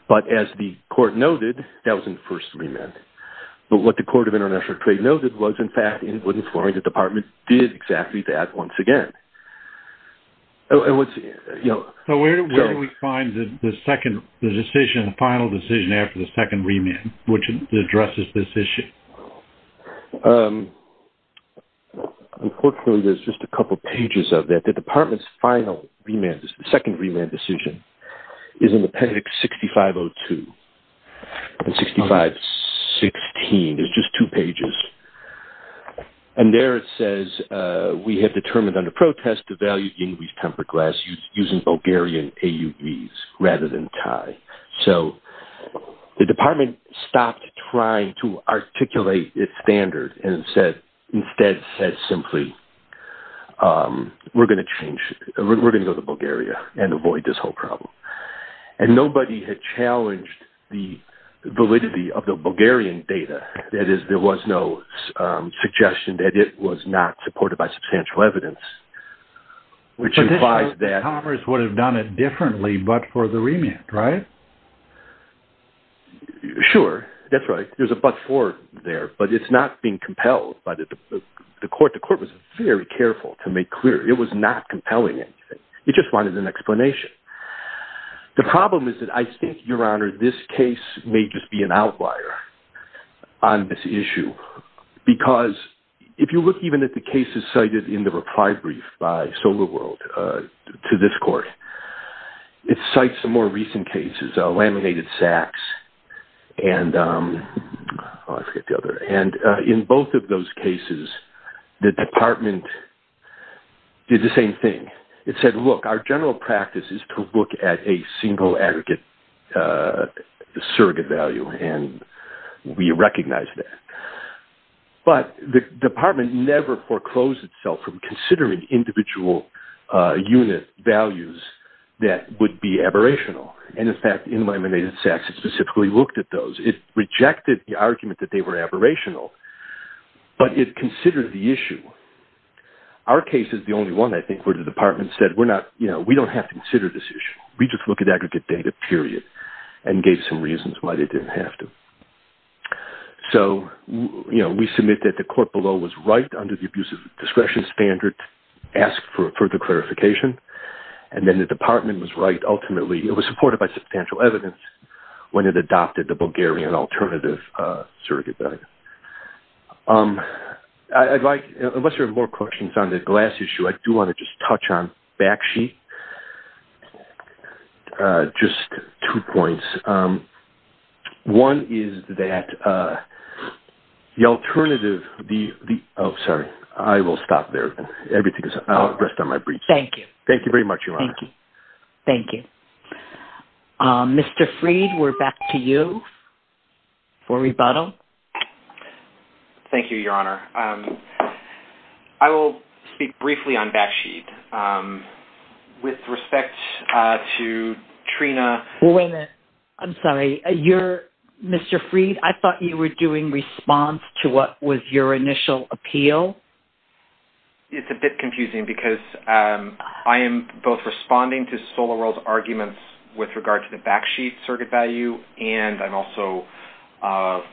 But as the Court noted, that was in the first remand. But what the Court of International Trade noted was, in fact, in wooden flooring, the department did exactly that once again. So where do we find the final decision after the second remand, which addresses this issue? Unfortunately, there's just a couple pages of that. The department's final second remand decision is in Appendix 6502. In 6516, there's just two pages. And there it says, we have determined under protest to value English tempered glass using Bulgarian AUVs rather than Thai. So the department stopped trying to articulate its standard and said, instead said simply, we're going to go to Bulgaria and avoid this whole problem. And nobody had challenged the validity of the Bulgarian data. That is, there was no suggestion that it was not supported by substantial evidence, which implies that... But this would have done it differently but for the remand, right? Sure, that's right. There's a but for there, but it's not being compelled by the court. The court was very careful to make clear. It was not compelling. It just wanted an explanation. The problem is that I think, Your Honor, this case may just be an outlier on this issue. Because if you look even at the cases cited in the reply brief by Solar World to this court, it cites some more recent cases, laminated sacks. And in both of those cases, the department did the same thing. It said, look, our general practice is to look at a single aggregate surrogate value and we recognize that. But the department never foreclosed itself from considering individual unit values that would be aberrational. And in fact, in laminated sacks, it specifically looked at those. It rejected the argument that they were aberrational, but it considered the issue. Our case is the only one, I think, where the department said, we don't have to consider this issue. We just look at aggregate data, period, and gave some reasons why they didn't have to. So, you know, we submit that the court below was right under the abuse of discretion standard, asked for further clarification. And then the department was right ultimately. It was supported by substantial evidence when it adopted the Bulgarian alternative surrogate value. I'd like, unless there are more questions on the glass issue, I do want to just touch on Bakshi. Just two points. One is that the alternative, the, oh, sorry, I will stop there. Everything is outdressed on my briefs. Thank you. Thank you very much, Your Honor. Thank you. Thank you. Mr. Freed, we're back to you for rebuttal. Thank you, Your Honor. I will speak briefly on Bakshi. With respect to Trina. Well, wait a minute. I'm sorry. You're, Mr. Freed, I thought you were doing response to what was your initial appeal. It's a bit confusing because I am both responding to SolarWorld's arguments with regard to the Bakshi surrogate value, and I'm also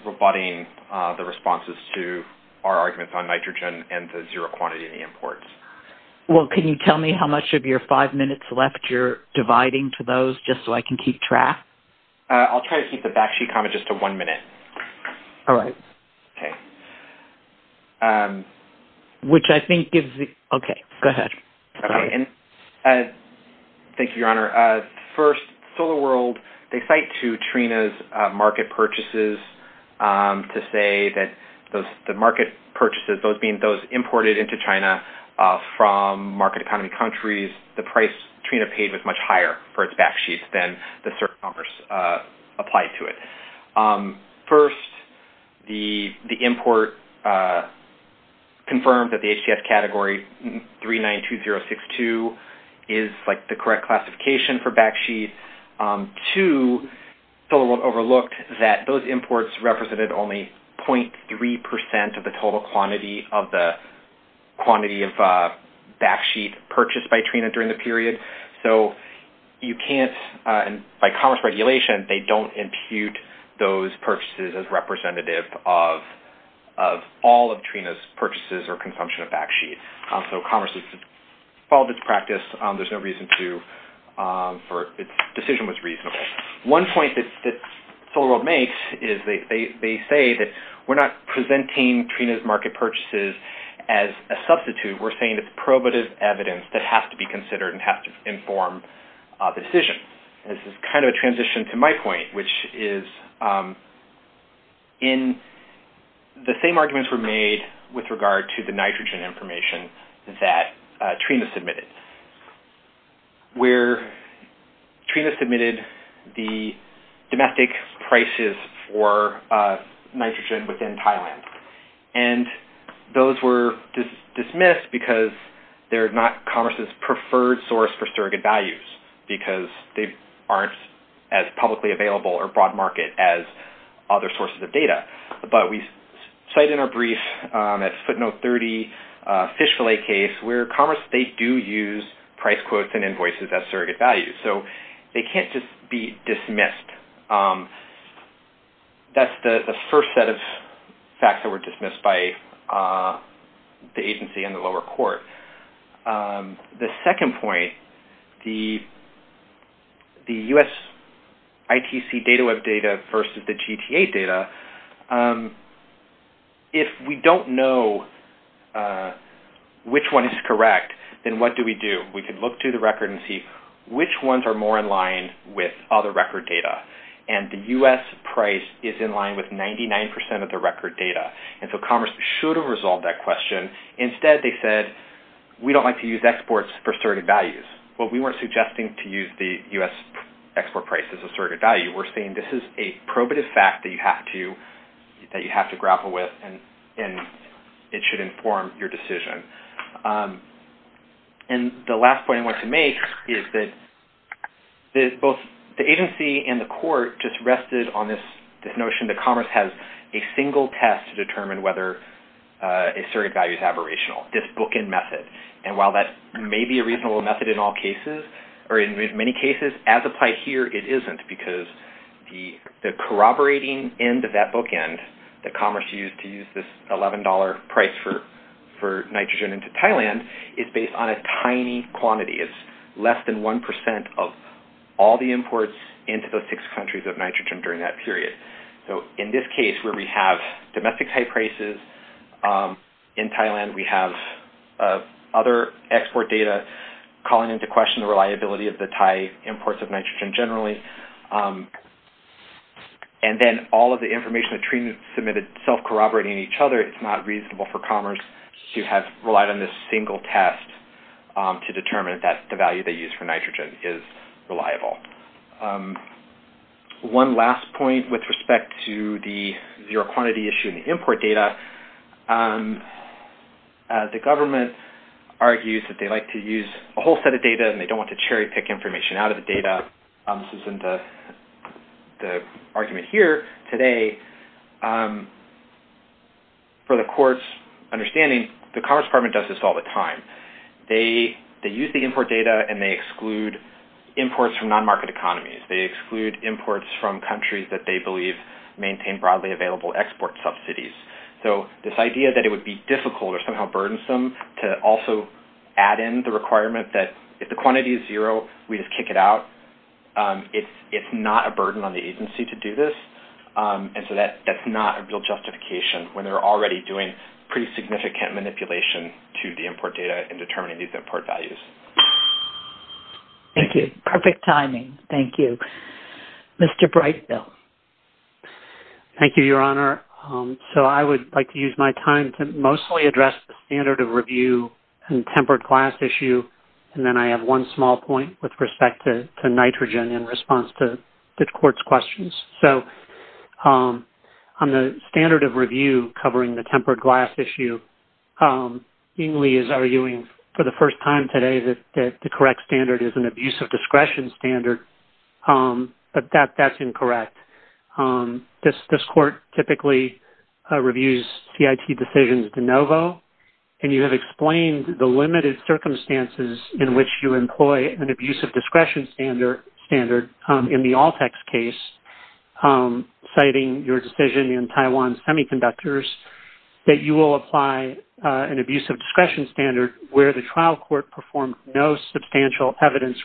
rebutting the responses to our arguments on nitrogen and the zero quantity of the imports. Well, can you tell me how much of your five minutes left you're dividing to those just so I can keep track? I'll try to keep the Bakshi comment just to one minute. All right. Okay. Which I think gives the, okay, go ahead. Okay. Thank you, Your Honor. First, SolarWorld, they cite to Trina's market purchases to say that the market purchases, those being those imported into China from market economy countries, the price Trina paid was much higher for its Bakshis than the surrogates applied to it. First, the import confirmed that the HTS category 392062 is like the correct classification for Bakshis. Two, SolarWorld overlooked that those imports represented only 0.3% of the total quantity of the quantity of Bakshis purchased by Trina during the period. So you can't, by commerce regulation, they don't impute those purchases as representative of all of Trina's purchases or consumption of Bakshis. So commerce has followed its practice. There's no reason to for its decision was reasonable. One point that SolarWorld makes is they say that we're not presenting Trina's market purchases as a substitute. We're saying it's probative evidence that has to be considered and has to inform the decision. This is kind of a transition to my point, which is in the same arguments were made with regard to the nitrogen information that Trina submitted, where Trina submitted the domestic prices for nitrogen within Thailand. And those were dismissed because they're not commerce's preferred source for surrogate values because they aren't as publicly available or broad market as other sources of data. But we cite in our brief at footnote 30 fish fillet case where commerce, they do use price quotes and invoices as surrogate values. So they can't just be dismissed. That's the first set of facts that were dismissed by the agency in the lower court. The second point, the US ITC data web data versus the GTA data, if we don't know which one is correct, then what do we do? We could look to the record and see which ones are more in line with other record data. And the US price is in line with 99% of the record data. And so commerce should have resolved that question. Instead, they said, we don't like to use exports for surrogate values. Well, we weren't suggesting to use the US export price as a surrogate value. We're saying this is a probative fact that you have to grapple with and it should inform your decision. And the last point I want to make is that both the agency and the court just rested on this notion that commerce has a single test to determine whether a surrogate value is aberrational, this bookend method. And while that may be a reasonable method in all cases, or in many cases, as applied here, it isn't. Because the corroborating end of that bookend that commerce used to use this $11 price for nitrogen into Thailand is based on a tiny quantity. It's less than 1% of all the imports into those six countries of nitrogen during that period. So in this case, where we have domestic Thai prices, in Thailand we have other export data calling into question the reliability of the Thai imports of nitrogen generally. And then all of the information the treatment submitted self-corroborating each other, it's not reasonable for commerce to have relied on this single test to determine that the value they used for nitrogen is reliable. One last point with respect to the zero quantity issue in the import data. The government argues that they like to use a whole set of data and they don't want to cherry pick information out of the data. This isn't the argument here today. For the court's understanding, the Commerce Department does this all the time. They use the import data and they exclude imports from non-market economies. They exclude imports from countries that they believe maintain broadly available export subsidies. So this idea that it would be difficult or somehow burdensome to also add in the requirement that if the quantity is zero, we just kick it out, it's not a burden on the agency to do this. And so that's not a real justification when they're already doing pretty significant manipulation to the import data in determining these import values. Thank you. Perfect timing. Thank you. Mr. Brightfield. Thank you, Your Honor. So I would like to use my time to mostly address the standard of review and tempered glass issue. And then I have one small point with respect to nitrogen in response to the court's questions. So on the standard of review covering the tempered glass issue, Ingley is arguing for the first time today that the correct standard is an abuse of discretion standard, but that's incorrect. This court typically reviews CIT decisions de novo, and you have explained the limited circumstances in which you employ an abuse of discretion standard in the Altex case, citing your decision in Taiwan Semiconductors, that you will apply an abuse of discretion standard where the trial court performed no substantial evidence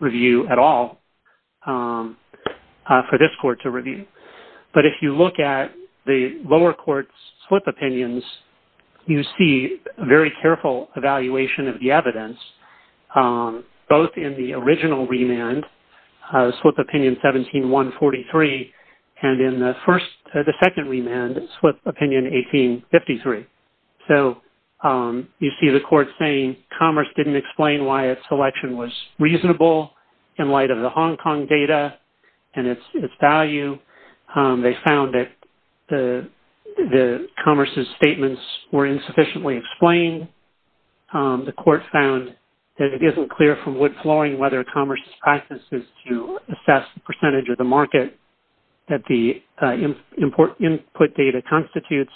review at all for this court to review. But if you look at the lower court's SWIP opinions, you see a very careful evaluation of the evidence, both in the original remand, SWIP opinion 17-143, and in the second remand, SWIP opinion 18-53. So you see the court saying Commerce didn't explain why its selection was reasonable in light of the Hong Kong data and its value. They found that Commerce's statements were insufficiently explained. The court found that it isn't clear from wood flooring whether Commerce's practice is to assess the percentage of the market that the input data constitutes.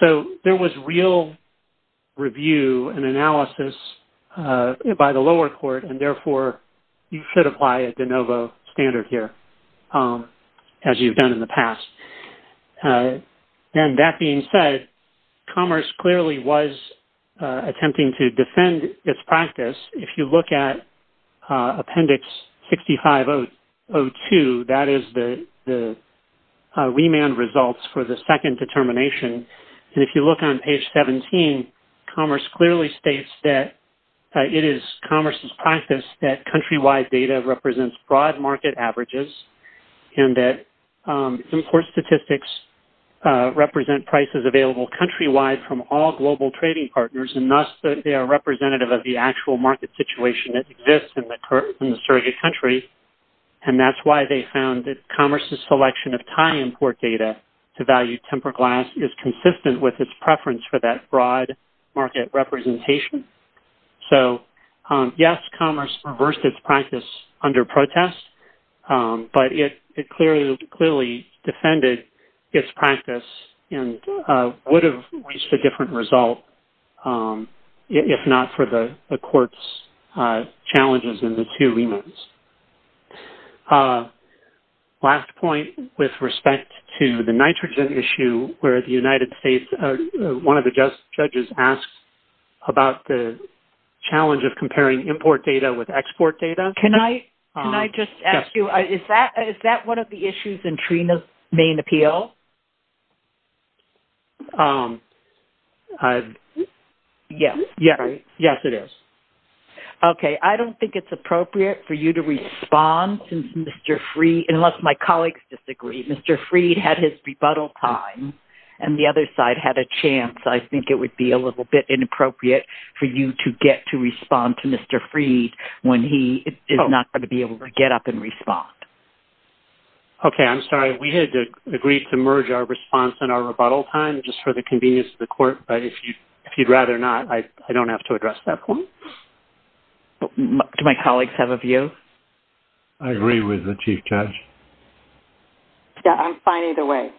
So there was real review and analysis by the lower court, and therefore you should apply a de novo standard here, as you've done in the past. And that being said, Commerce clearly was attempting to defend its practice. If you look at Appendix 6502, that is the remand results for the second determination, and if you look on page 17, Commerce clearly states that it is Commerce's practice that countrywide data represents broad market averages and that import statistics represent prices available countrywide from all global trading partners, and thus they are representative of the actual market situation that exists in the surrogate country, and that's why they found that Commerce's selection of Thai import data to value tempered glass is consistent with its preference for that broad market representation. So yes, Commerce reversed its practice under protest, but it clearly defended its practice and would have reached a different result if not for the court's challenges in the two remands. Last point with respect to the nitrogen issue where the United States, one of the judges asked about the challenge of comparing import data with export data. Can I just ask you, is that one of the issues in TRENA's main appeal? Yes. Yes, it is. Okay, I don't think it's appropriate for you to respond to Mr. Freed unless my colleagues disagree. Mr. Freed had his rebuttal time and the other side had a chance. I think it would be a little bit inappropriate for you to get to respond to Mr. Freed when he is not going to be able to get up and respond. Okay, I'm sorry. We had agreed to merge our response and our rebuttal time just for the convenience of the court, but if you'd rather not, I don't have to address that point. Do my colleagues have a view? I agree with the Chief Judge. Yeah, I'm fine either way.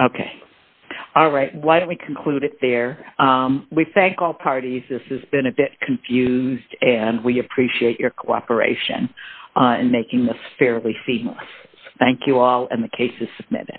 Okay. All right, why don't we conclude it there. We thank all parties. This has been a bit confused and we appreciate your cooperation in making this fairly seamless. Thank you all and the case is submitted.